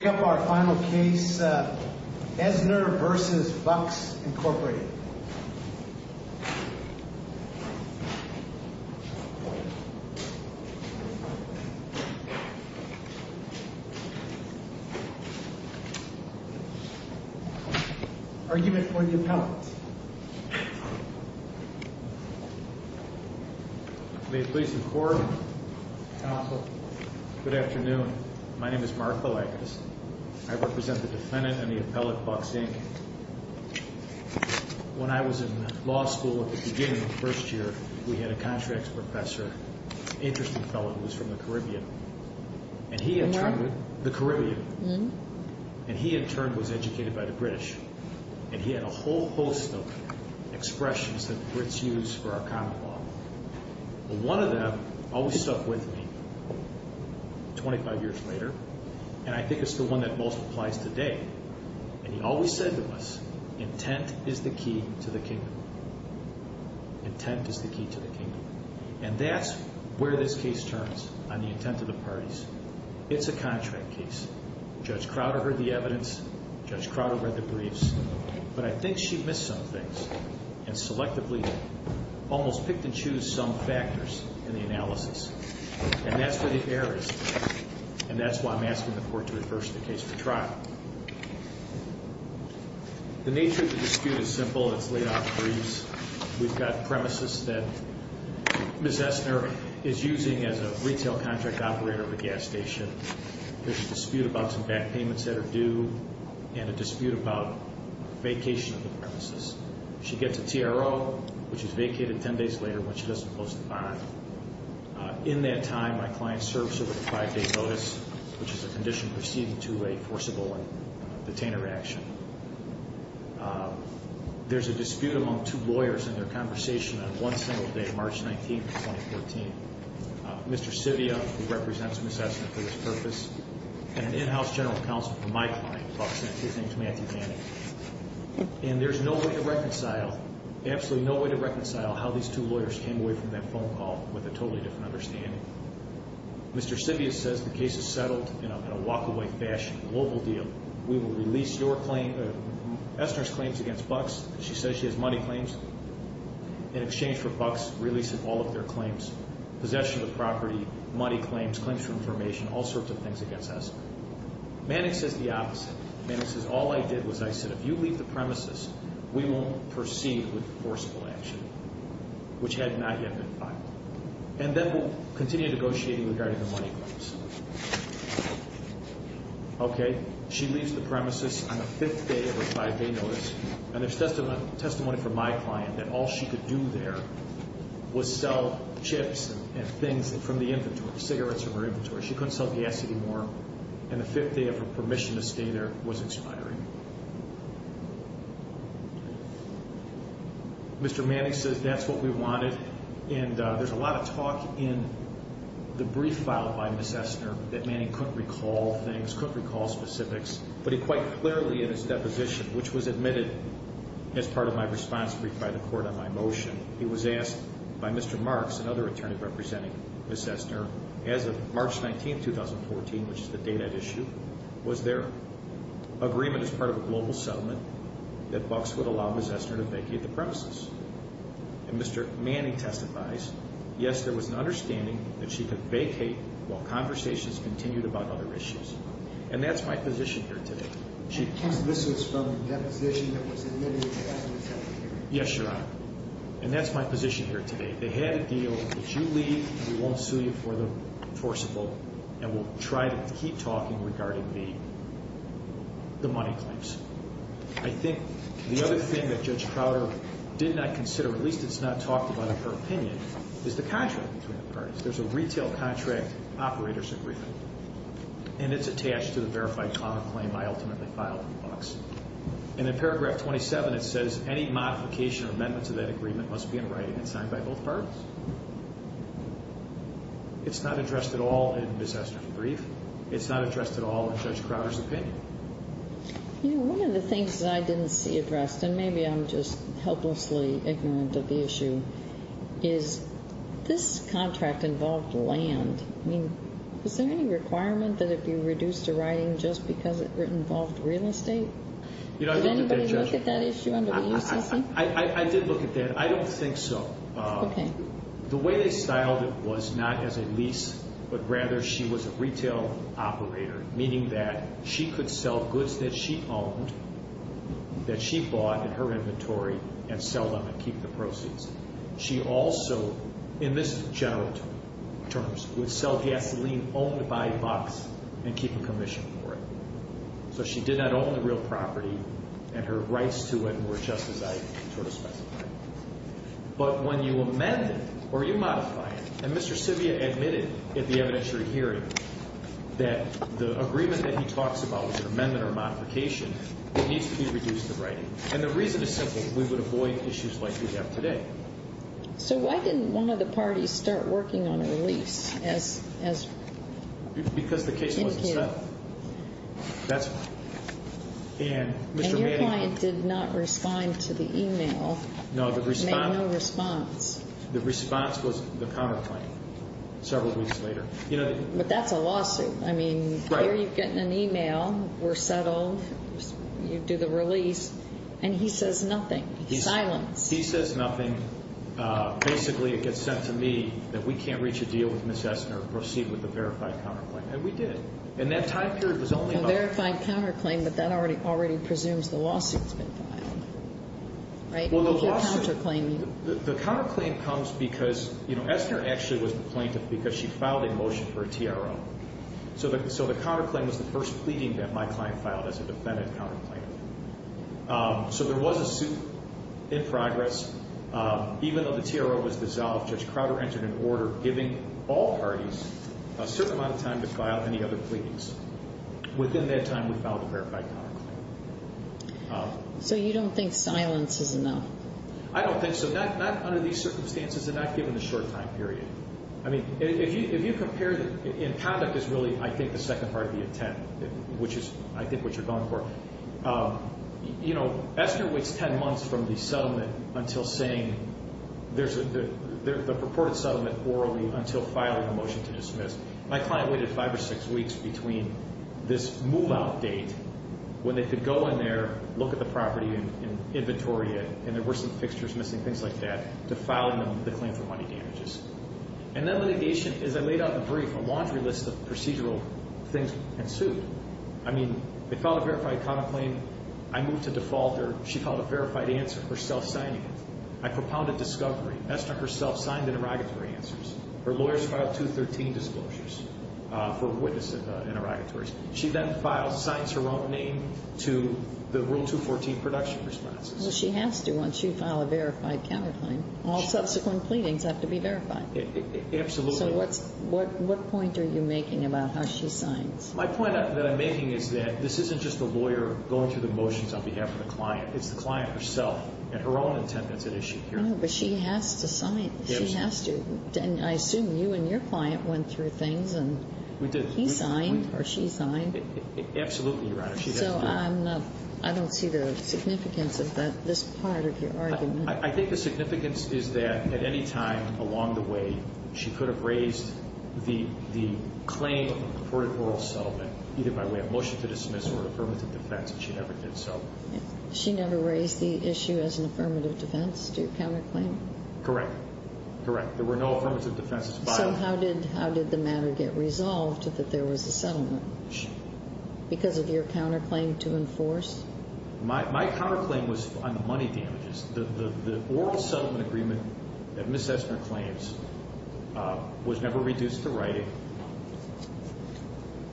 We have our final case, Esner v. Buck's, Inc. Argument for the appellant. May it please the Court. Counsel. Good afternoon. My name is Mark Balagas. I represent the defendant and the appellant, Buck's, Inc. When I was in law school at the beginning of the first year, we had a contracts professor, an interesting fellow who was from the Caribbean. And he in turn was educated by the British. And he had a whole host of expressions that the Brits use for our common law. One of them always stuck with me 25 years later. And I think it's the one that most applies today. And he always said to us, intent is the key to the kingdom. Intent is the key to the kingdom. And that's where this case turns, on the intent of the parties. It's a contract case. Judge Crowder heard the evidence. Judge Crowder read the briefs. But I think she missed some things and selectively almost picked and chose some factors in the analysis. And that's where the error is. And that's why I'm asking the Court to reverse the case for trial. The nature of the dispute is simple. It's laid out in briefs. We've got premises that Ms. Essner is using as a retail contract operator of a gas station. There's a dispute about some back payments that are due. And a dispute about vacation of the premises. She gets a TRO, which is vacated 10 days later when she doesn't post the bond. In that time, my client serves her with a five-day notice, which is a condition proceeding to a forcible and detainer action. There's a dispute among two lawyers in their conversation on one single day, March 19, 2014. Mr. Civia, who represents Ms. Essner for this purpose. And an in-house general counsel for my client, Bucks. His name is Matthew Gannon. And there's no way to reconcile, absolutely no way to reconcile how these two lawyers came away from that phone call with a totally different understanding. Mr. Civia says the case is settled in a walk-away fashion, a mobile deal. We will release your claim, Essner's claims against Bucks. She says she has money claims. In exchange for Bucks releasing all of their claims, possession of property, money claims, claims for information, all sorts of things against Essner. Mannix says the opposite. Mannix says all I did was I said if you leave the premises, we will proceed with forcible action, which had not yet been filed. And then we'll continue negotiating regarding the money claims. Okay, she leaves the premises on the fifth day of her five-day notice. And there's testimony from my client that all she could do there was sell chips and things from the inventory, cigarettes from her inventory. She couldn't sell gas anymore. And the fifth day of her permission to stay there was expiring. Mr. Mannix says that's what we wanted. And there's a lot of talk in the brief filed by Ms. Essner that Mannix couldn't recall things, couldn't recall specifics. But he quite clearly in his deposition, which was admitted as part of my response brief by the court on my motion, he was asked by Mr. Marks, another attorney representing Ms. Essner, as of March 19, 2014, which is the date at issue, was there agreement as part of a global settlement that Bucks would allow Ms. Essner to vacate the premises? And Mr. Mannix testifies, yes, there was an understanding that she could vacate while conversations continued about other issues. And that's my position here today. And this was from a deposition that was admitted by the Secretary? Yes, Your Honor. And that's my position here today. They had a deal that you leave, we won't sue you for the forcible, and we'll try to keep talking regarding the money claims. I think the other thing that Judge Crowder did not consider, at least it's not talked about in her opinion, is the contract between the parties. There's a retail contract operators agreement. And it's attached to the verified common claim I ultimately filed with Bucks. And in paragraph 27, it says any modification or amendments of that agreement must be in writing and signed by both parties. It's not addressed at all in Ms. Essner's brief. It's not addressed at all in Judge Crowder's opinion. You know, one of the things that I didn't see addressed, and maybe I'm just helplessly ignorant of the issue, is this contract involved land. I mean, is there any requirement that it be reduced to writing just because it involved real estate? Did anybody look at that issue under the U.C.C.? I did look at that. I don't think so. Okay. The way they styled it was not as a lease, but rather she was a retail operator, meaning that she could sell goods that she owned, that she bought in her inventory, and sell them and keep the proceeds. She also, in this general terms, would sell gasoline owned by Bucks and keep a commission for it. So she did not own the real property, and her rights to it were just as I sort of specified. But when you amend it or you modify it, and Mr. Civia admitted at the evidentiary hearing that the agreement that he talks about was an amendment or a modification, it needs to be reduced to writing. And the reason is simple. We would avoid issues like we have today. So why didn't one of the parties start working on a lease? Because the case wasn't settled. That's why. And your client did not respond to the e-mail. No, the response was the counterclaim several weeks later. But that's a lawsuit. I mean, here you're getting an e-mail, we're settled, you do the release, and he says nothing. He's silenced. He says nothing. Basically, it gets sent to me that we can't reach a deal with Ms. Essner, proceed with the verified counterclaim. And we did. And that time period was only about- A verified counterclaim, but that already presumes the lawsuit's been filed. Right? Well, the lawsuit- If you're counterclaiming. The counterclaim comes because, you know, Essner actually was the plaintiff because she filed a motion for a TRO. So the counterclaim was the first pleading that my client filed as a defendant counterclaim. So there was a suit in progress. Even though the TRO was dissolved, Judge Crowder entered an order giving all parties a certain amount of time to file any other pleadings. Within that time, we filed a verified counterclaim. So you don't think silence is enough? I don't think so. Not under these circumstances and not given the short time period. I mean, if you compare the- and conduct is really, I think, the second part of the attempt, which is, I think, what you're going for. You know, Essner waits 10 months from the settlement until saying- the purported settlement orally until filing a motion to dismiss. My client waited five or six weeks between this move-out date, when they could go in there, look at the property and inventory, and there were some fixtures missing, things like that, to filing the claim for money damages. And that litigation, as I laid out in the brief, a laundry list of procedural things ensued. I mean, they filed a verified counterclaim. I moved to default her. She filed a verified answer for self-signing it. I propounded discovery. Essner herself signed interrogatory answers. Her lawyers filed 213 disclosures for witness interrogatories. She then files- signs her own name to the Rule 214 production responses. Well, she has to once you file a verified counterclaim. All subsequent pleadings have to be verified. Absolutely. So what point are you making about how she signs? My point that I'm making is that this isn't just the lawyer going through the motions on behalf of the client. It's the client herself and her own intent that's at issue here. No, but she has to sign. She has to. And I assume you and your client went through things and- We did. He signed or she signed. Absolutely, Your Honor. She has to sign. So I'm not- I don't see the significance of that, this part of your argument. I think the significance is that at any time along the way, she could have raised the claim of a purported oral settlement, either by way of motion to dismiss or affirmative defense, and she never did so. She never raised the issue as an affirmative defense to your counterclaim? Correct. Correct. There were no affirmative defenses filed. So how did the matter get resolved that there was a settlement? Because of your counterclaim to enforce? My counterclaim was on the money damages. The oral settlement agreement that Ms. Essner claims was never reduced to writing.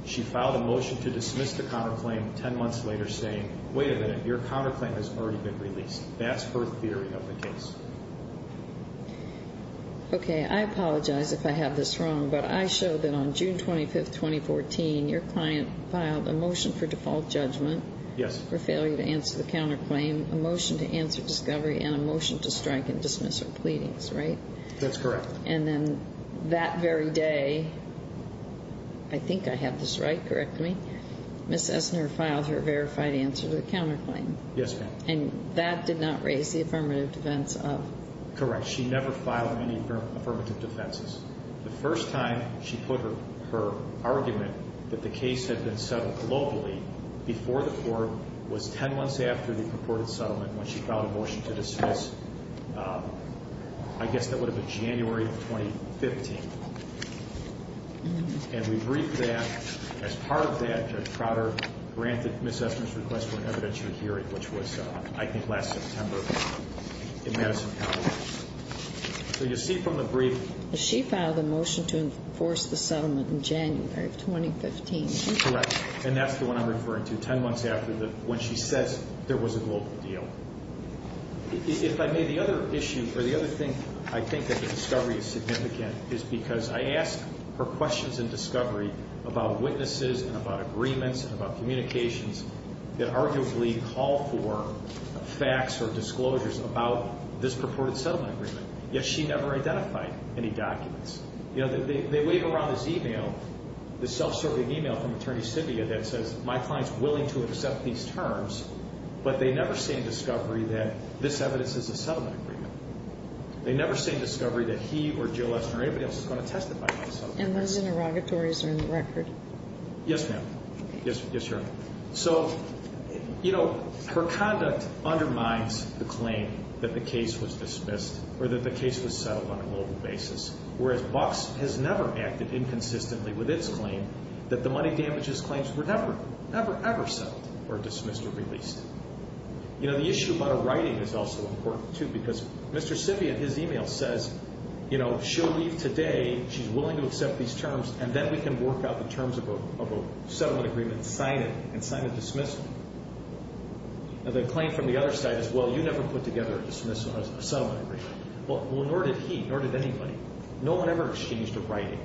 She filed a motion to dismiss the counterclaim 10 months later saying, wait a minute, your counterclaim has already been released. That's her theory of the case. Okay. I apologize if I have this wrong, but I show that on June 25, 2014, your client filed a motion for default judgment- Yes. For failure to answer the counterclaim, a motion to answer discovery, and a motion to strike and dismiss her pleadings, right? That's correct. And then that very day, I think I have this right, correct me, Ms. Essner filed her verified answer to the counterclaim. Yes, ma'am. And that did not raise the affirmative defense of? Correct. She never filed any affirmative defenses. The first time she put her argument that the case had been settled globally before the court was 10 months after the purported settlement when she filed a motion to dismiss, I guess that would have been January of 2015. And we briefed that. As part of that, Judge Prater granted Ms. Essner's request for an evidentiary hearing, which was, I think, last September in Madison County. So you see from the briefing- She filed a motion to enforce the settlement in January of 2015. Correct. And that's the one I'm referring to, 10 months after when she says there was a global deal. If I may, the other issue, or the other thing I think that the discovery is significant is because I asked her questions in discovery about witnesses and about agreements and about communications that arguably call for facts or disclosures about this purported settlement agreement, yet she never identified any documents. You know, they wave around this email, this self-serving email from Attorney Sibbia that says, my client's willing to accept these terms, but they never say in discovery that this evidence is a settlement agreement. They never say in discovery that he or Jill Essner or anybody else is going to testify on the settlement agreement. And those interrogatories are in the record. Yes, ma'am. Yes, Your Honor. So, you know, her conduct undermines the claim that the case was dismissed or that the case was settled on a global basis, whereas Bucks has never acted inconsistently with its claim that the money damages claims were never, ever, ever settled or dismissed or released. You know, the issue about her writing is also important, too, because Mr. Sibbia, his email says, you know, she'll leave today, she's willing to accept these terms, and then we can work out the terms of a settlement agreement, sign it, and sign a dismissal. And the claim from the other side is, well, you never put together a dismissal or a settlement agreement. Well, nor did he, nor did anybody. No one ever exchanged a writing.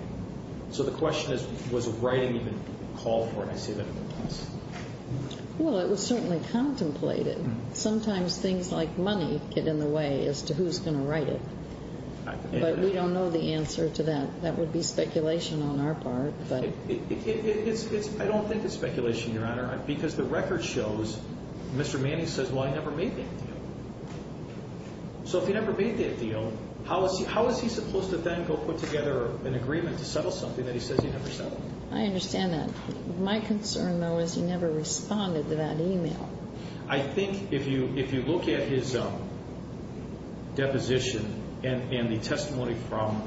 So the question is, was a writing even called for? I see that in the case. Well, it was certainly contemplated. Sometimes things like money get in the way as to who's going to write it. But we don't know the answer to that. That would be speculation on our part. I don't think it's speculation, Your Honor, because the record shows Mr. Manning says, well, I never made that deal. So if he never made that deal, how is he supposed to then go put together an agreement to settle something that he says he never settled? I understand that. My concern, though, is he never responded to that email. I think if you look at his deposition and the testimony from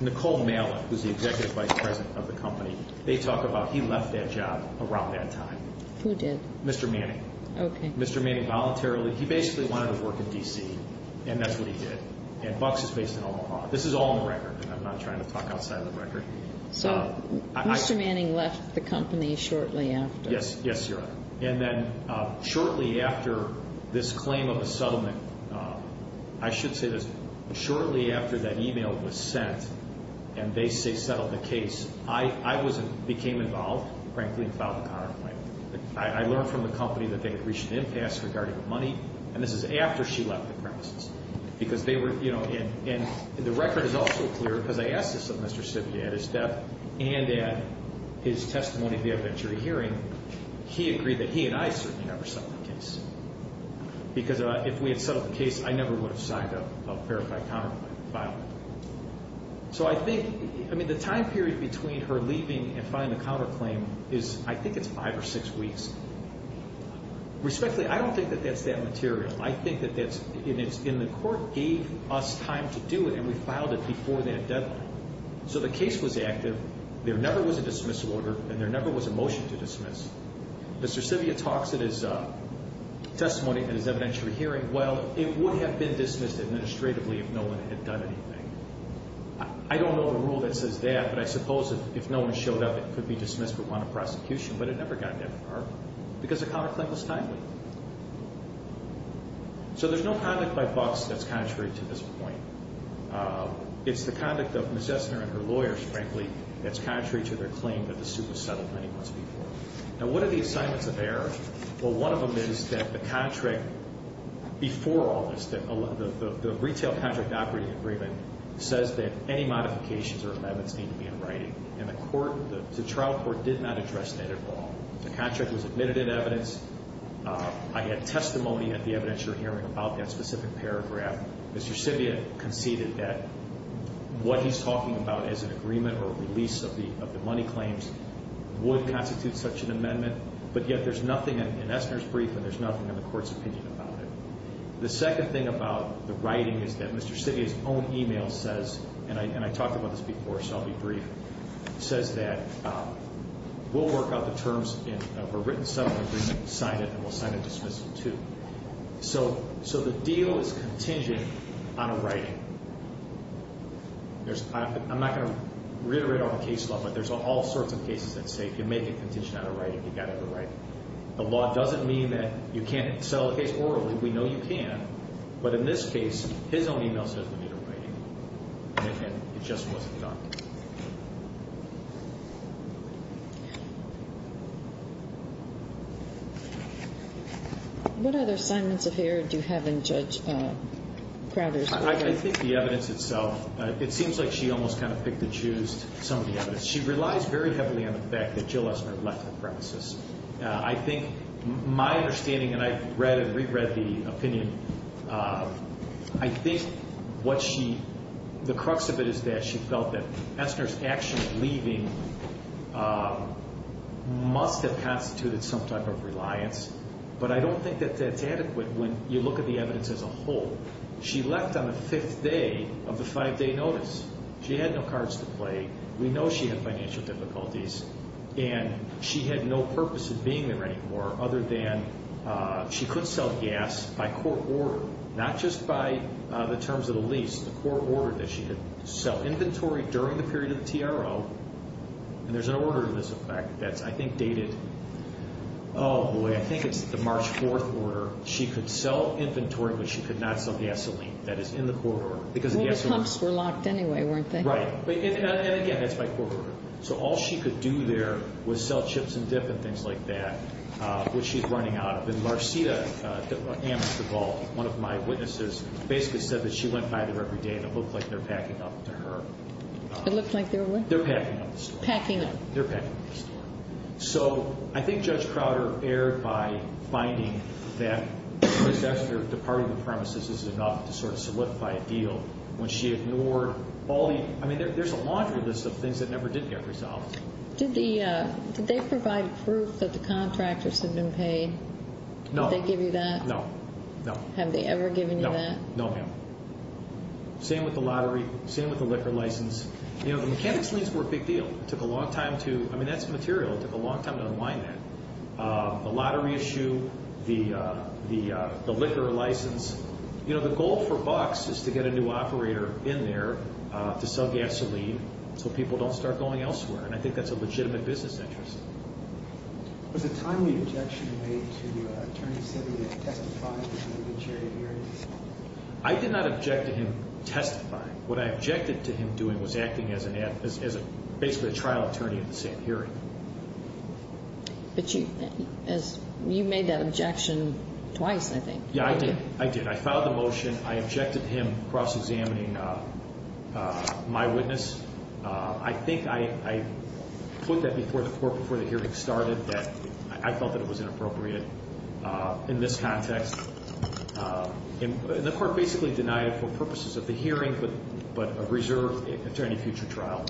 Nicole Malick, who's the Executive Vice President of the company, they talk about he left that job around that time. Who did? Mr. Manning. Okay. Mr. Manning voluntarily. He basically wanted to work in D.C., and that's what he did. And Bucks is based in Omaha. This is all in the record, and I'm not trying to talk outside of the record. So Mr. Manning left the company shortly after. Yes, Your Honor. And then shortly after this claim of a settlement, I should say this, shortly after that email was sent and they settled the case, I became involved, frankly, and filed a counterclaim. I learned from the company that they had reached an impasse regarding the money, and this is after she left the premises. Because they were, you know, and the record is also clear, because I asked this of Mr. he agreed that he and I certainly never settled the case. Because if we had settled the case, I never would have signed a verified counterclaim. So I think, I mean, the time period between her leaving and filing the counterclaim is, I think it's five or six weeks. Respectfully, I don't think that that's that material. I think that that's, and the court gave us time to do it, and we filed it before that deadline. So the case was active. There never was a dismissal order, and there never was a motion to dismiss. Mr. Sivia talks at his testimony at his evidentiary hearing, well, it would have been dismissed administratively if no one had done anything. I don't know the rule that says that, but I suppose if no one showed up, it could be dismissed for want of prosecution. But it never got that far, because the counterclaim was timely. So there's no conduct by Bucks that's contrary to this point. It's the conduct of Ms. Essner and her lawyers, frankly, that's contrary to their claim that the suit was settled many months before. Now, what are the assignments of error? Well, one of them is that the contract before August, the retail contract operating agreement, says that any modifications or amendments need to be in writing. And the trial court did not address that at all. The contract was admitted in evidence. I had testimony at the evidentiary hearing about that specific paragraph. Mr. Sivia conceded that what he's talking about as an agreement or release of the money claims would constitute such an amendment, but yet there's nothing in Essner's brief and there's nothing in the court's opinion about it. The second thing about the writing is that Mr. Sivia's own email says, and I talked about this before, so I'll be brief, says that we'll work out the terms of a written settlement agreement, sign it, and we'll sign a dismissal too. So the deal is contingent on a writing. I'm not going to reiterate all the case law, but there's all sorts of cases that say if you make a contingent on a writing, you've got to have a writing. The law doesn't mean that you can't settle the case orally. We know you can. But in this case, his own email says we need a writing, and it just wasn't done. Thank you. What other assignments of error do you have in Judge Crowder's report? I think the evidence itself. It seems like she almost kind of picked and choosed some of the evidence. She relies very heavily on the fact that Jill Essner left the premises. I think my understanding, and I've read and reread the opinion, I think the crux of it is that she felt that Essner's action of leaving must have constituted some type of reliance, but I don't think that that's adequate when you look at the evidence as a whole. She left on the fifth day of the five-day notice. She had no cards to play. We know she had financial difficulties, and she had no purpose in being there anymore other than she could sell gas by court order, not just by the terms of the lease, the court order that she could sell inventory during the period of the TRO. And there's an order to this effect that's, I think, dated, oh, boy, I think it's the March 4th order. She could sell inventory, but she could not sell gasoline. That is in the court order. Well, the pumps were locked anyway, weren't they? Right. And, again, that's by court order. So all she could do there was sell chips and dip and things like that, which she's running out of. And Marcita Amistad-Vault, one of my witnesses, basically said that she went by there every day and it looked like they're packing up to her. It looked like they were what? They're packing up the store. Packing up. They're packing up the store. So I think Judge Crowder erred by finding that Ms. Essner departing the premises is enough to sort of solidify a deal when she ignored all the ñ Did they provide proof that the contractors had been paid? No. Did they give you that? No. No. Have they ever given you that? No, ma'am. Same with the lottery, same with the liquor license. You know, the mechanics liens were a big deal. It took a long time to ñ I mean, that's material. It took a long time to unwind that. The lottery issue, the liquor license, you know, the goal for Bucks is to get a new operator in there to sell gasoline so people don't start going elsewhere, and I think that's a legitimate business interest. Was a timely objection made to Attorney Sibby that he testified before the jury hearing? I did not object to him testifying. What I objected to him doing was acting as basically a trial attorney at the same hearing. But you made that objection twice, I think. Yeah, I did. I did. I filed the motion. I objected to him cross-examining my witness. I think I put that before the court before the hearing started, that I felt that it was inappropriate in this context. And the court basically denied it for purposes of the hearing but a reserve attorney future trial.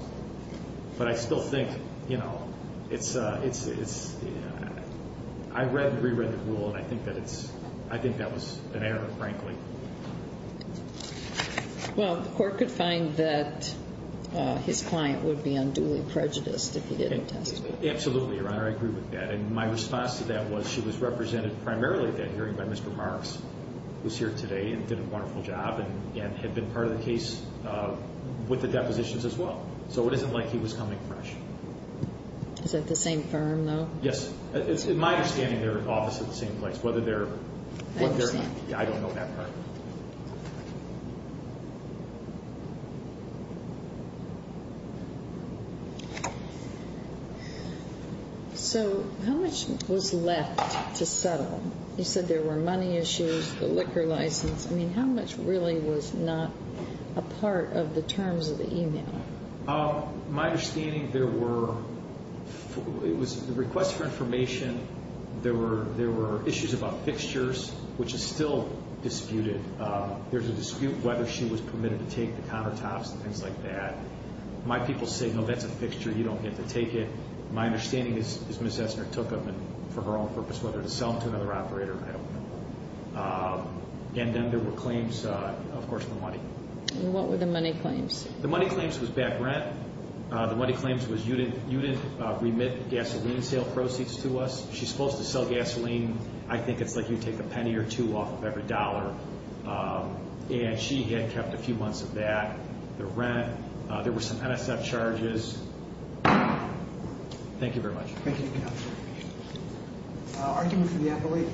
But I still think, you know, it's ñ I read and reread the rule, and I think that it's ñ I think that was an error, frankly. Well, the court could find that his client would be unduly prejudiced if he didn't testify. Absolutely, Your Honor, I agree with that. And my response to that was she was represented primarily at that hearing by Mr. Marks, who's here today and did a wonderful job and had been part of the case with the depositions as well. So it isn't like he was coming fresh. Is that the same firm, though? Yes. It's my understanding they're in office at the same place, whether they're ñ I understand. I don't know that part. So how much was left to settle? You said there were money issues, the liquor license. I mean, how much really was not a part of the terms of the email? My understanding, there were ñ it was a request for information. There were issues about fixtures, which is still disputed. There's a dispute whether she was permitted to take the countertops and things like that. My people say, no, that's a fixture. You don't get to take it. My understanding is Ms. Essner took them for her own purpose, whether to sell them to another operator, I don't know. And then there were claims, of course, of the money. And what were the money claims? The money claims was back rent. The money claims was you didn't remit gasoline sale proceeds to us. She's supposed to sell gasoline. I think it's like you take a penny or two off of every dollar. And she had kept a few months of that, the rent. There were some NSF charges. Thank you very much. Thank you, counsel. Argument for the appellee.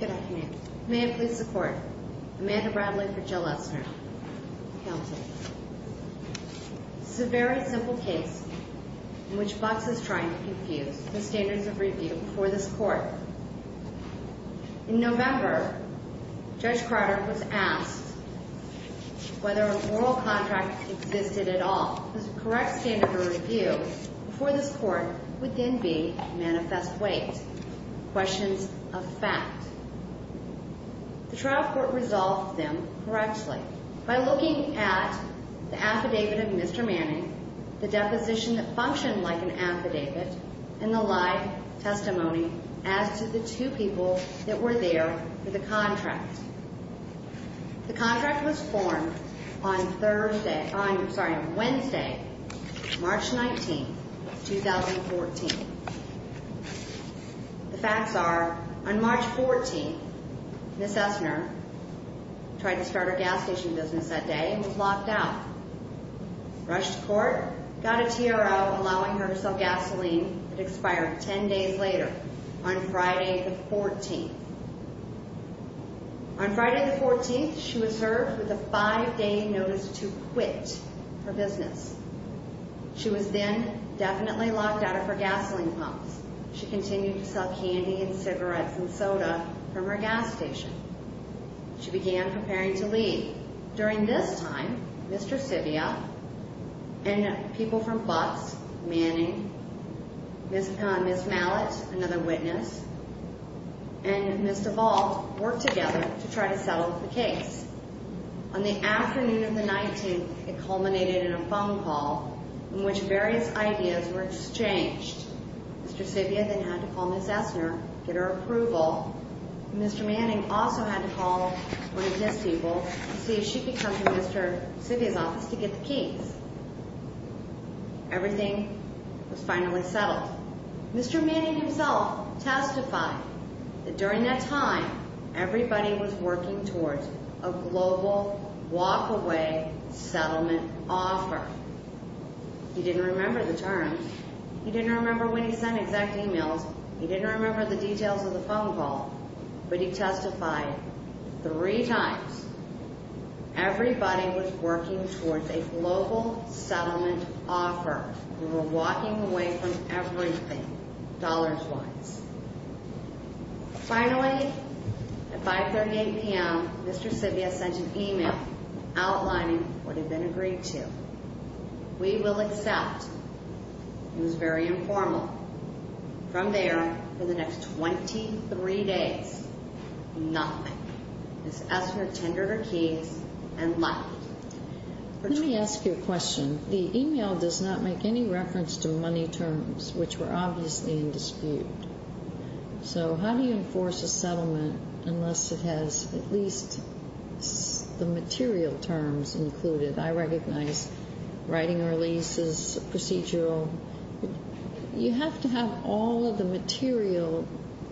Good afternoon. May I please support Amanda Bradley for Jill Essner? Counsel. This is a very simple case in which Box is trying to confuse the standards of review for this court. In November, Judge Carter was asked whether a moral contract existed at all. The correct standard of review for this court would then be manifest weight, questions of fact. The trial court resolved them correctly. By looking at the affidavit of Mr. Manning, the deposition functioned like an affidavit, and the live testimony as to the two people that were there for the contract. The contract was formed on Wednesday, March 19, 2014. The facts are, on March 14, Ms. Essner tried to start her gas station business that day and was locked out. Rushed to court, got a TRO allowing her to sell gasoline. It expired 10 days later, on Friday the 14th. On Friday the 14th, she was served with a five-day notice to quit her business. She was then definitely locked out of her gasoline pumps. She continued to sell candy and cigarettes and soda from her gas station. She began preparing to leave. During this time, Mr. Civia and people from Fox, Manning, Ms. Mallett, another witness, and Ms. DeVault worked together to try to settle the case. On the afternoon of the 19th, it culminated in a phone call in which various ideas were exchanged. Mr. Civia then had to call Ms. Essner to get her approval. Mr. Manning also had to call one of his people to see if she could come to Mr. Civia's office to get the keys. Everything was finally settled. Mr. Manning himself testified that during that time, everybody was working towards a global walk-away settlement offer. He didn't remember the terms. He didn't remember when he sent exact emails. He didn't remember the details of the phone call, but he testified three times. Everybody was working towards a global settlement offer. We were walking away from everything, dollars-wise. Finally, at 5.38 p.m., Mr. Civia sent an email outlining what had been agreed to. We will accept. It was very informal. From there, for the next 23 days, nothing. Ms. Essner tendered her keys and left. Let me ask you a question. The email does not make any reference to money terms, which were obviously in dispute. So how do you enforce a settlement unless it has at least the material terms included? I recognize writing a release is procedural. You have to have all of the material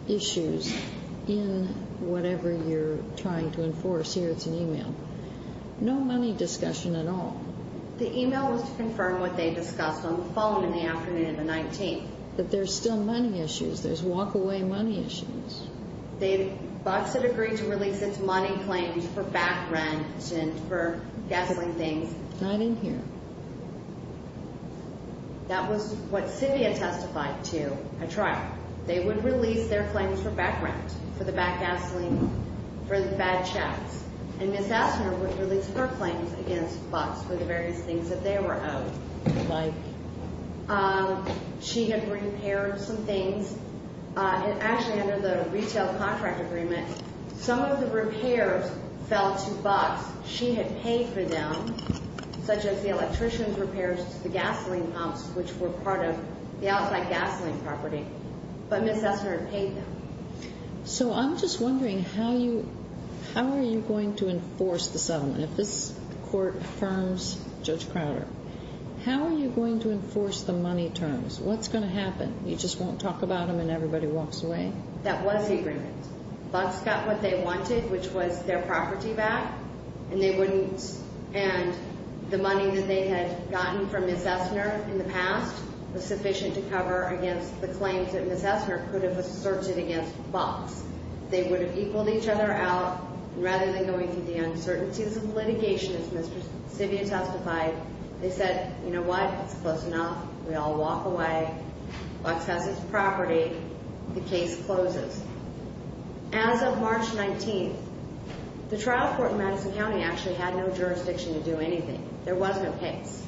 issues in whatever you're trying to enforce. Here, it's an email. No money discussion at all. The email was to confirm what they discussed on the phone in the afternoon of the 19th. But there's still money issues. There's walk-away money issues. Bucks had agreed to release its money claims for back rent and for gasoline things. Not in here. That was what Civia testified to at trial. They would release their claims for back rent, for the back gasoline, for the bad checks. And Ms. Essner would release her claims against Bucks for the various things that they were owed. Like? She had repaired some things. Actually, under the retail contract agreement, some of the repairs fell to Bucks. She had paid for them, such as the electrician's repairs to the gasoline pumps, which were part of the outside gasoline property. But Ms. Essner had paid them. So I'm just wondering, how are you going to enforce the settlement if this court affirms Judge Crowder? How are you going to enforce the money terms? What's going to happen? You just won't talk about them and everybody walks away? That was the agreement. Bucks got what they wanted, which was their property back, and they wouldn't. And the money that they had gotten from Ms. Essner in the past was sufficient to cover against the claims that Ms. Essner could have asserted against Bucks. They would have equaled each other out. Rather than going through the uncertainties of litigation, as Ms. Civia testified, they said, you know what? It's close enough. We all walk away. Bucks has his property. The case closes. As of March 19th, the trial court in Madison County actually had no jurisdiction to do anything. There was no case.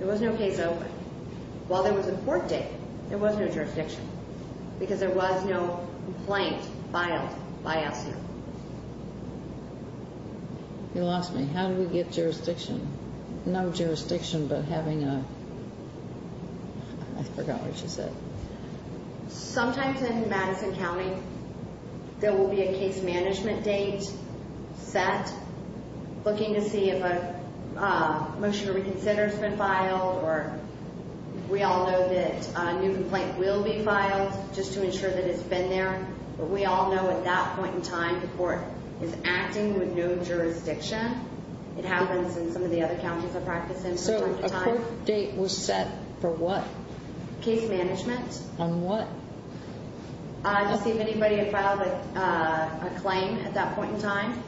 There was no case open. While there was a court date, there was no jurisdiction because there was no complaint filed by Essner. You lost me. How do we get jurisdiction? No jurisdiction but having a – I forgot what you said. Sometimes in Madison County, there will be a case management date set looking to see if a motion to reconsider has been filed. Or we all know that a new complaint will be filed just to ensure that it's been there. But we all know at that point in time, the court is acting with no jurisdiction. It happens in some of the other counties I practice in. So a court date was set for what? Case management. On what? To see if anybody had filed a claim at that point in time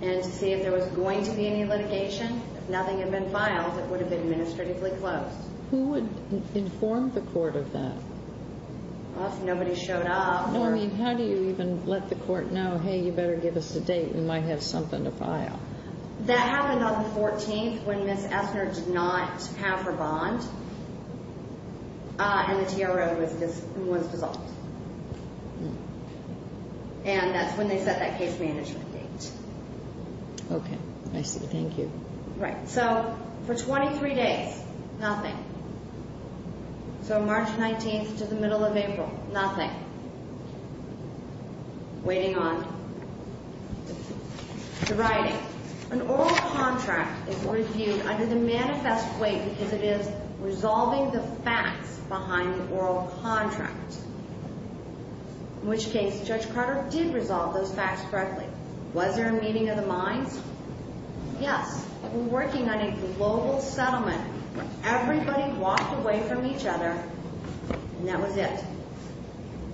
and to see if there was going to be any litigation. If nothing had been filed, it would have been administratively closed. Who would inform the court of that? If nobody showed up. How do you even let the court know, hey, you better give us a date. We might have something to file. That happened on the 14th when Ms. Essner did not have her bond. And the TRO was dissolved. And that's when they set that case management date. Okay. I see. Thank you. Right. So for 23 days, nothing. So March 19th to the middle of April, nothing. Waiting on the writing. An oral contract is reviewed under the manifest way because it is resolving the facts behind the oral contract. In which case, Judge Carter did resolve those facts correctly. Was there a meeting of the minds? Yes. They were working on a global settlement. Everybody walked away from each other. And that was it.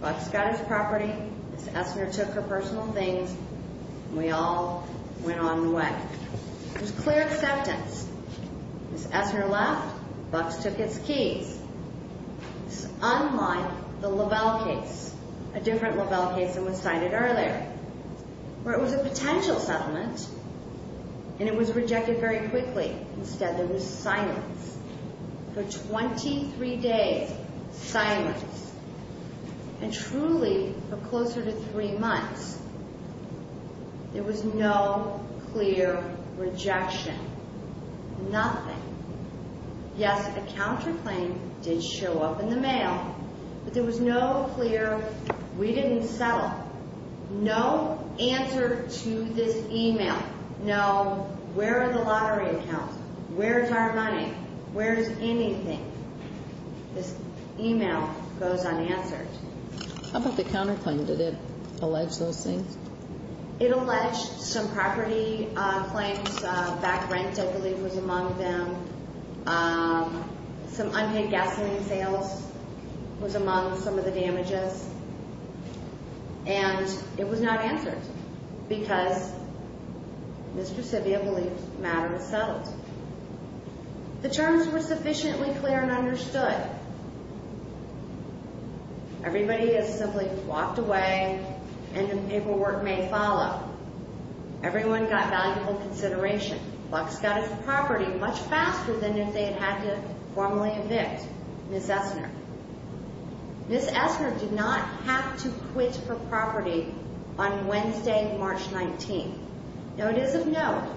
Bucks got his property. Ms. Essner took her personal things. And we all went on the way. There was clear acceptance. Ms. Essner left. Bucks took his keys. This is unlike the Lovell case. A different Lovell case that was cited earlier. Where it was a potential settlement. And it was rejected very quickly. Instead, there was silence. For 23 days, silence. And truly, for closer to three months, there was no clear rejection. Nothing. Yes, a counterclaim did show up in the mail. But there was no clear, we didn't settle. No answer to this email. No, where are the lottery accounts? Where is our money? Where is anything? This email goes unanswered. How about the counterclaim? Did it allege those things? It alleged some property claims. Back rent, I believe, was among them. Some unpaid gasoline sales was among some of the damages. And it was not answered. Because Ms. Presidio believed the matter was settled. The terms were sufficiently clear and understood. Everybody has simply walked away. And the paperwork may follow. Everyone got valuable consideration. Bucks got his property much faster than if they had had to formally evict Ms. Essner. Ms. Essner did not have to quit her property on Wednesday, March 19th. Now, it is of note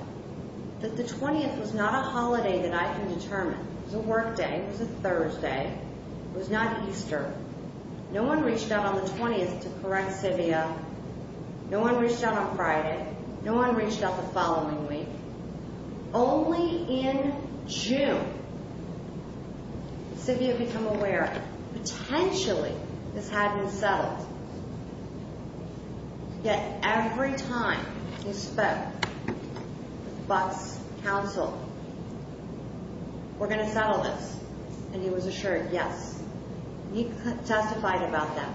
that the 20th was not a holiday that I can determine. It was a work day. It was a Thursday. It was not Easter. No one reached out on the 20th to correct Sivia. No one reached out on Friday. No one reached out the following week. Only in June, Sivia became aware. Potentially, this had been settled. Yet, every time he spoke with Bucks' counsel, we're going to settle this. And he was assured, yes. He testified about that.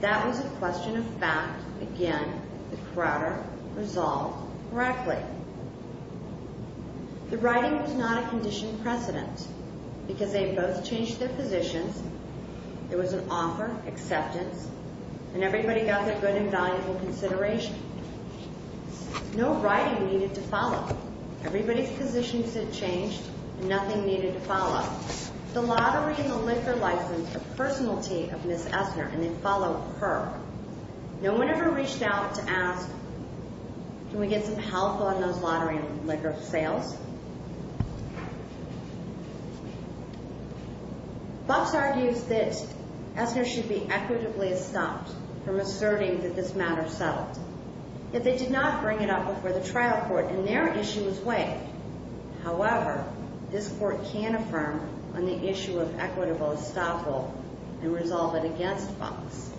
That was a question of fact. Again, the Crowder resolved correctly. The writing was not a conditioned precedent because they both changed their positions. There was an offer, acceptance, and everybody got their good and valuable consideration. No writing needed to follow. Everybody's positions had changed. Nothing needed to follow. The lottery and the liquor license are the personality of Ms. Essner, and they follow her. No one ever reached out to ask, Can we get some help on those lottery and liquor sales? Bucks argues that Essner should be equitably estopped from asserting that this matter is settled. Yet, they did not bring it up before the trial court, and their issue was waived. However, this court can affirm on the issue of equitable estoppel and resolve it against Bucks.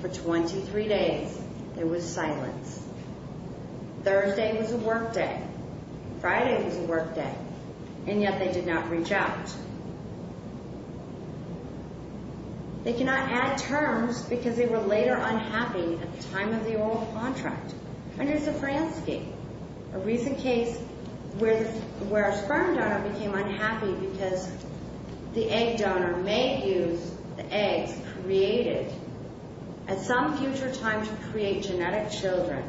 For 23 days, there was silence. Thursday was a work day. Friday was a work day. And yet, they did not reach out. They cannot add terms because they were later unhappy at the time of the oral contract under Zafransky, a recent case where a sperm donor became unhappy because the egg donor may have used the eggs created at some future time to create genetic children.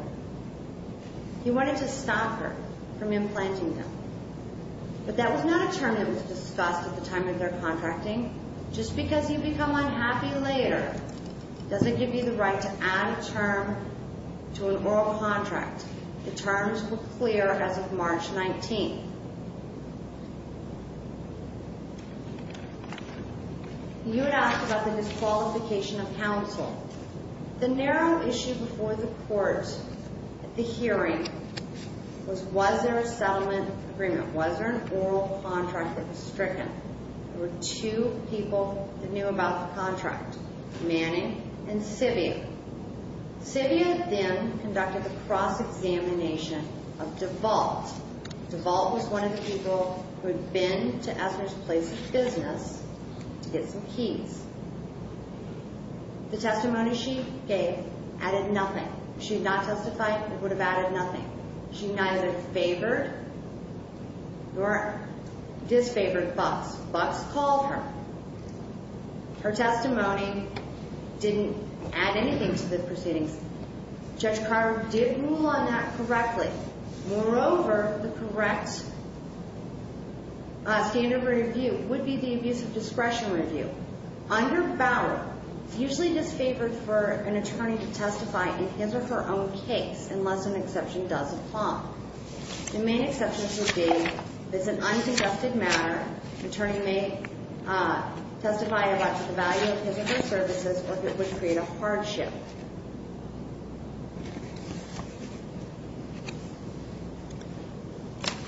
He wanted to stop her from implanting them. But that was not a term that was discussed at the time of their contracting. Just because you become unhappy later doesn't give you the right to add a term to an oral contract. The terms were clear as of March 19th. You had asked about the disqualification of counsel. The narrow issue before the court at the hearing was, was there a settlement agreement? Was there an oral contract that was stricken? There were two people that knew about the contract, Manning and Civia. Civia then conducted a cross-examination of DeVault. DeVault was one of the people who had been to Esmer's place of business to get some keys. The testimony she gave added nothing. If she had not testified, it would have added nothing. She neither favored nor disfavored Bucks. Bucks called her. Her testimony didn't add anything to the proceedings. Judge Carter did rule on that correctly. Moreover, the correct standard review would be the Abusive Discretion Review. Under Bauer, it's usually disfavored for an attorney to testify in his or her own case unless an exception does apply. The main exceptions would be if it's an undisgusted matter, an attorney may testify about the value of his or her services or if it would create a hardship.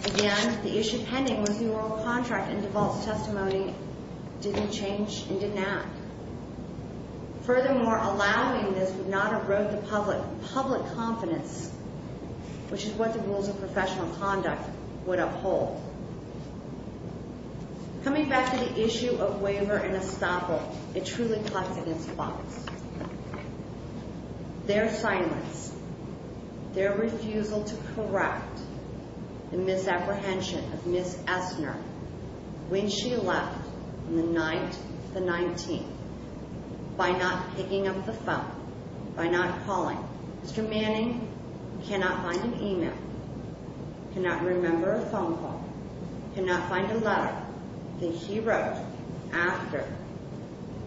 Again, the issue pending was the oral contract, and DeVault's testimony didn't change and didn't add. Furthermore, allowing this would not uproot the public confidence, which is what the rules of professional conduct would uphold. Coming back to the issue of waiver and estoppel, it truly clashed against Bucks. Their silence, their refusal to correct the misapprehension of Ms. Essner when she left on the night of the 19th by not picking up the phone, by not calling. Mr. Manning cannot find an email, cannot remember a phone call, cannot find a letter that he wrote after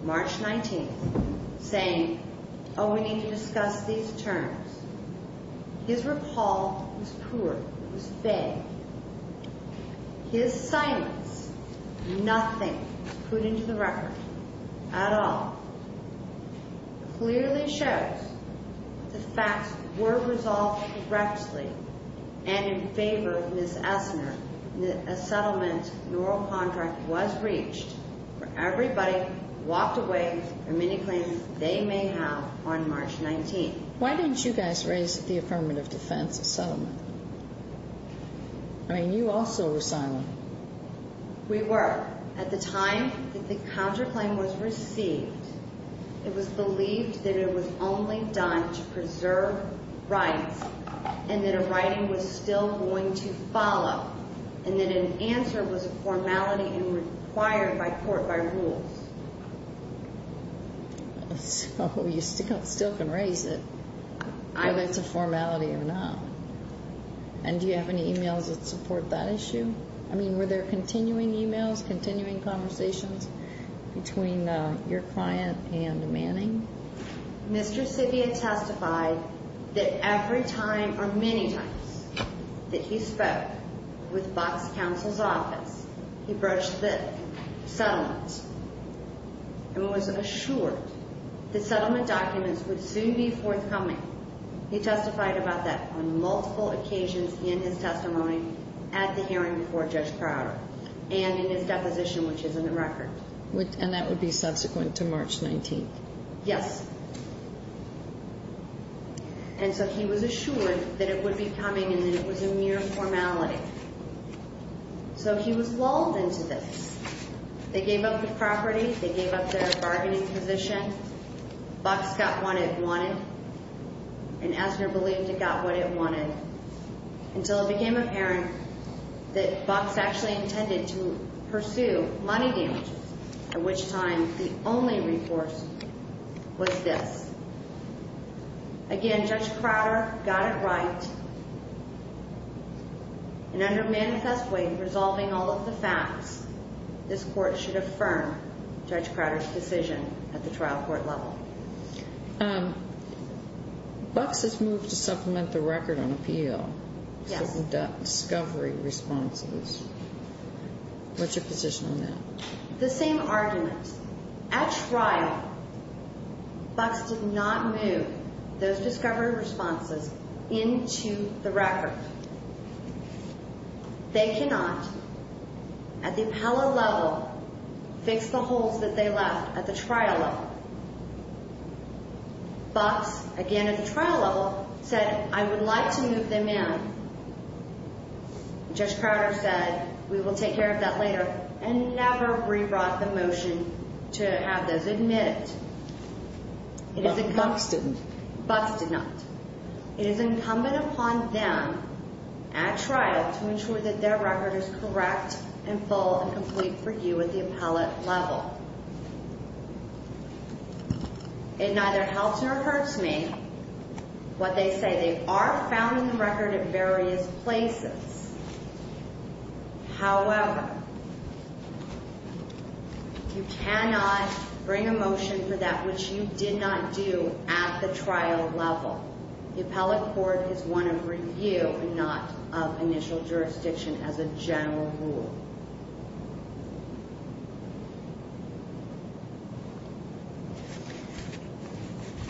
March 19th saying, oh, we need to discuss these terms. His recall was poor, it was vague. His silence, nothing was put into the record at all. Clearly shows the facts were resolved correctly and in favor of Ms. Essner. A settlement, an oral contract was reached where everybody walked away from any claims they may have on March 19th. Why didn't you guys raise the affirmative defense of settlement? I mean, you also were silent. We were. At the time that the counterclaim was received, it was believed that it was only done to preserve rights and that a writing was still going to follow and that an answer was a formality and required by court by rules. So you still can raise it, whether it's a formality or not. And do you have any emails that support that issue? I mean, were there continuing emails, continuing conversations between your client and Manning? Mr. Civia testified that every time or many times that he spoke with Box Counsel's office, he broached the settlements and was assured that settlement documents would soon be forthcoming. He testified about that on multiple occasions in his testimony at the hearing before Judge Crowder and in his deposition, which is in the record. And that would be subsequent to March 19th? Yes. And so he was assured that it would be coming and that it was a mere formality. So he was lulled into this. They gave up the property. They gave up their bargaining position. Box got what it wanted. And Asner believed it got what it wanted until it became apparent that Box actually intended to pursue money damages, at which time the only recourse was this. Again, Judge Crowder got it right. And under a manifest way of resolving all of the facts, this Court should affirm Judge Crowder's decision at the trial court level. Box has moved to supplement the record on appeal. Yes. The discovery responses. What's your position on that? The same argument. At trial, Box did not move those discovery responses into the record. They cannot, at the appellate level, fix the holes that they left at the trial level. Box, again at the trial level, said, I would like to move them in. Judge Crowder said, we will take care of that later and never rewrote the motion to have those admitted. Box did not. It is incumbent upon them at trial to ensure that their record is correct and full and complete for you at the appellate level. It neither helps nor hurts me what they say. They are found in the record at various places. However, you cannot bring a motion for that which you did not do at the trial level. The appellate court is one of review and not of initial jurisdiction as a general rule.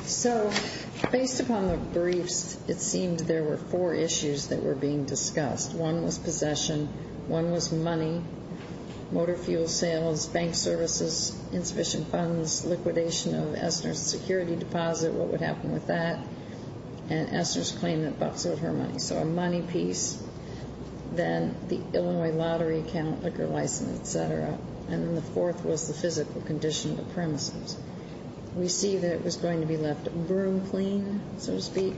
Thank you. Based upon the briefs, it seemed there were four issues that were being discussed. One was possession. One was money, motor fuel sales, bank services, insufficient funds, liquidation of Essner's security deposit, what would happen with that, and Essner's claim that Box owed her money, so a money piece. Then the Illinois lottery account, liquor license, et cetera. And then the fourth was the physical condition of the premises. We see that it was going to be left broom clean, so to speak.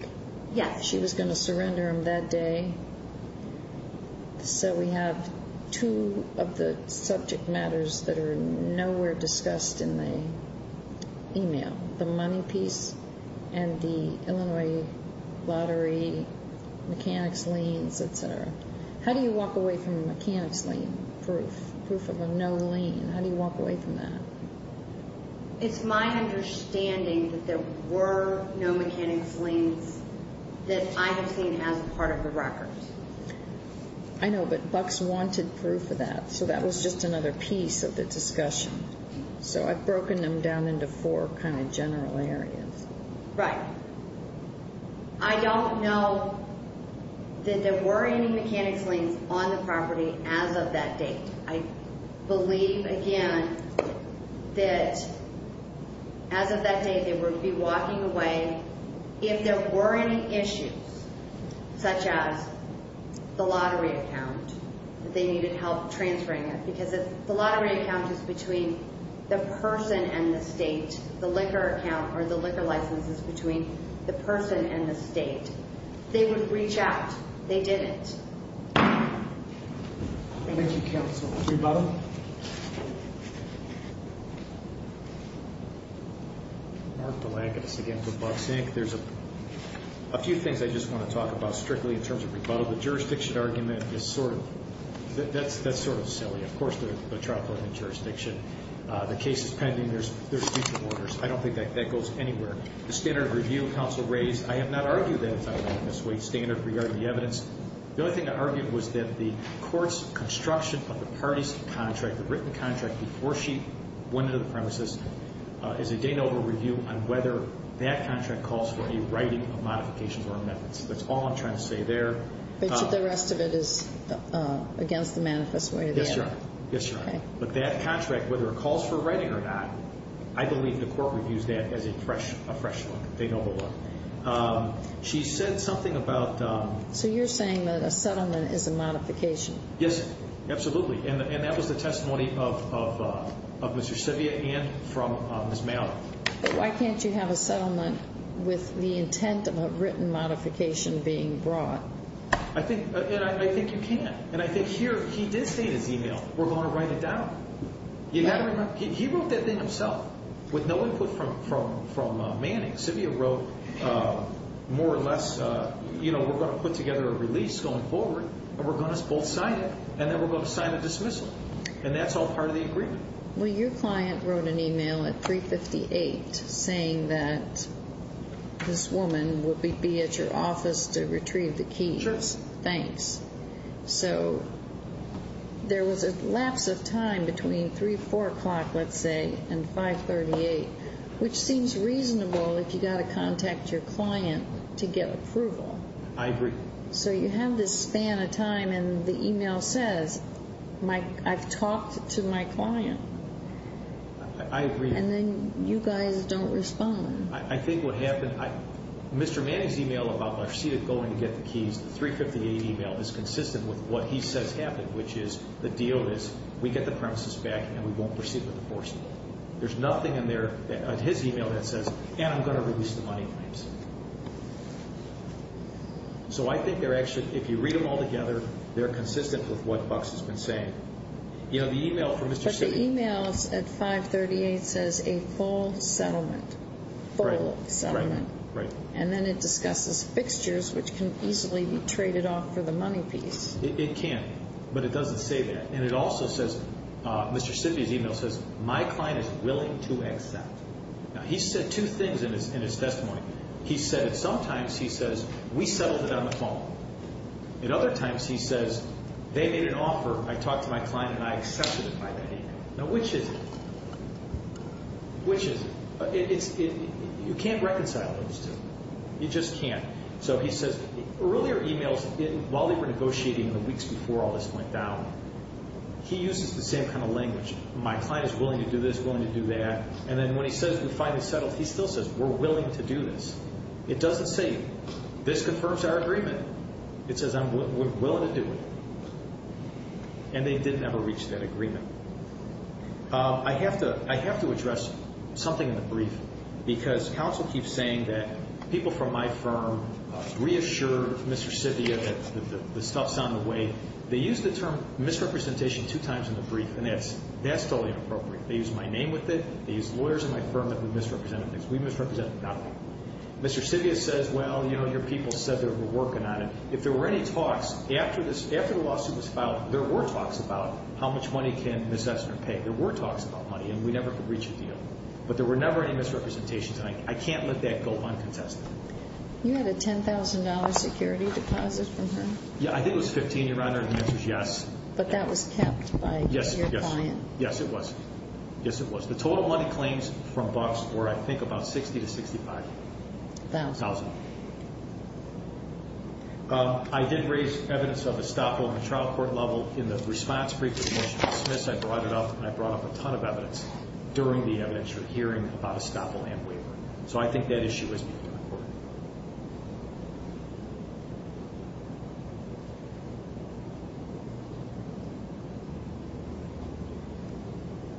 Yes. She was going to surrender them that day. So we have two of the subject matters that are nowhere discussed in the e-mail, the money piece and the Illinois lottery mechanics liens, et cetera. How do you walk away from a mechanics lien proof, proof of a no lien? How do you walk away from that? It's my understanding that there were no mechanics liens that I have seen as part of the record. I know, but Box wanted proof of that, so that was just another piece of the discussion. So I've broken them down into four kind of general areas. Right. I don't know that there were any mechanics liens on the property as of that date. I believe, again, that as of that date they would be walking away. If there were any issues, such as the lottery account, that they needed help transferring it, because if the lottery account is between the person and the state, the liquor account or the liquor license is between the person and the state, they would reach out. They didn't. Thank you, counsel. Rebuttal. Mark Delacatis again for Box Inc. There's a few things I just want to talk about strictly in terms of rebuttal. The jurisdiction argument is sort of silly. Of course there's a trial court in jurisdiction. The case is pending. There's future orders. I don't think that goes anywhere. The standard review counsel raised, I have not argued that it's a weight standard regarding the evidence. The only thing I argued was that the court's construction of the parties' contract, the written contract before she went into the premises, is a date over review on whether that contract calls for a writing of modifications or amendments. That's all I'm trying to say there. But the rest of it is against the manifest way? Yes, Your Honor. Yes, Your Honor. But that contract, whether it calls for a writing or not, I believe the court reviews that as a fresh look. They know the look. She said something about... So you're saying that a settlement is a modification? Yes, absolutely. And that was the testimony of Mr. Sivia and from Ms. Mallard. But why can't you have a settlement with the intent of a written modification being brought? I think you can. And I think here he did state his email, we're going to write it down. He wrote that thing himself with no input from Manning. Sivia wrote more or less, you know, we're going to put together a release going forward, and we're going to both sign it, and then we're going to sign the dismissal. And that's all part of the agreement. Well, your client wrote an email at 358 saying that this woman would be at your office to retrieve the keys. Sure. Thanks. So there was a lapse of time between 3, 4 o'clock, let's say, and 538, which seems reasonable if you've got to contact your client to get approval. I agree. So you have this span of time, and the email says, I've talked to my client. I agree. And then you guys don't respond. I think what happened, Mr. Manning's email about my receipt of going to get the keys, the 358 email is consistent with what he says happened, which is the deal is we get the premises back, and we won't proceed with the forcible. There's nothing in his email that says, and I'm going to release the money claims. So I think they're actually, if you read them all together, they're consistent with what Bucks has been saying. You know, the email from Mr. Sidney. But the email at 538 says a full settlement. Right. Full settlement. Right. And then it discusses fixtures, which can easily be traded off for the money piece. It can, but it doesn't say that. And it also says, Mr. Sidney's email says, my client is willing to accept. Now, he said two things in his testimony. He said that sometimes he says, we settled it on the phone. At other times he says, they made an offer, I talked to my client, and I accepted it by email. Now, which is it? Which is it? You can't reconcile those two. You just can't. So he says, earlier emails, while they were negotiating in the weeks before all this went down, he uses the same kind of language. My client is willing to do this, willing to do that. And then when he says, we finally settled, he still says, we're willing to do this. It doesn't say, this confirms our agreement. It says, I'm willing to do it. And they did never reach that agreement. I have to address something in the brief, because counsel keeps saying that people from my firm reassured Mr. Sidney that the stuff's on the way. They used the term misrepresentation two times in the brief, and that's totally inappropriate. They used my name with it. They used lawyers in my firm that misrepresented things. We misrepresented nothing. Mr. Sidney says, well, you know, your people said they were working on it. If there were any talks, after the lawsuit was filed, there were talks about how much money can Ms. Essner pay. There were talks about money, and we never could reach a deal. But there were never any misrepresentations, and I can't let that go uncontested. You had a $10,000 security deposit from her? Yeah, I think it was $15,000, Your Honor, and the answer is yes. But that was kept by your client? Yes, it was. Yes, it was. The total money claims from Bucks were, I think, about $60,000 to $65,000. A thousand? A thousand. I did raise evidence of estoppel in the trial court level. In the response brief that Commissioner Smith brought it up, I brought up a ton of evidence during the evidence-sharing hearing about estoppel and waiver. So I think that issue has been covered.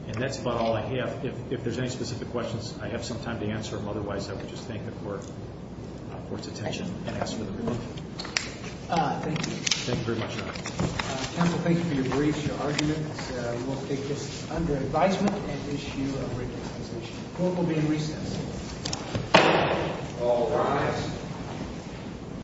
And that's about all I have. If there's any specific questions, I have some time to answer them. Otherwise, I would just thank the court for its attention and ask for the brief. Thank you. Thank you very much, Your Honor. Counsel, thank you for your briefs, your arguments. We will take this under advisement and issue a written accusation. Court will be in recess. All rise.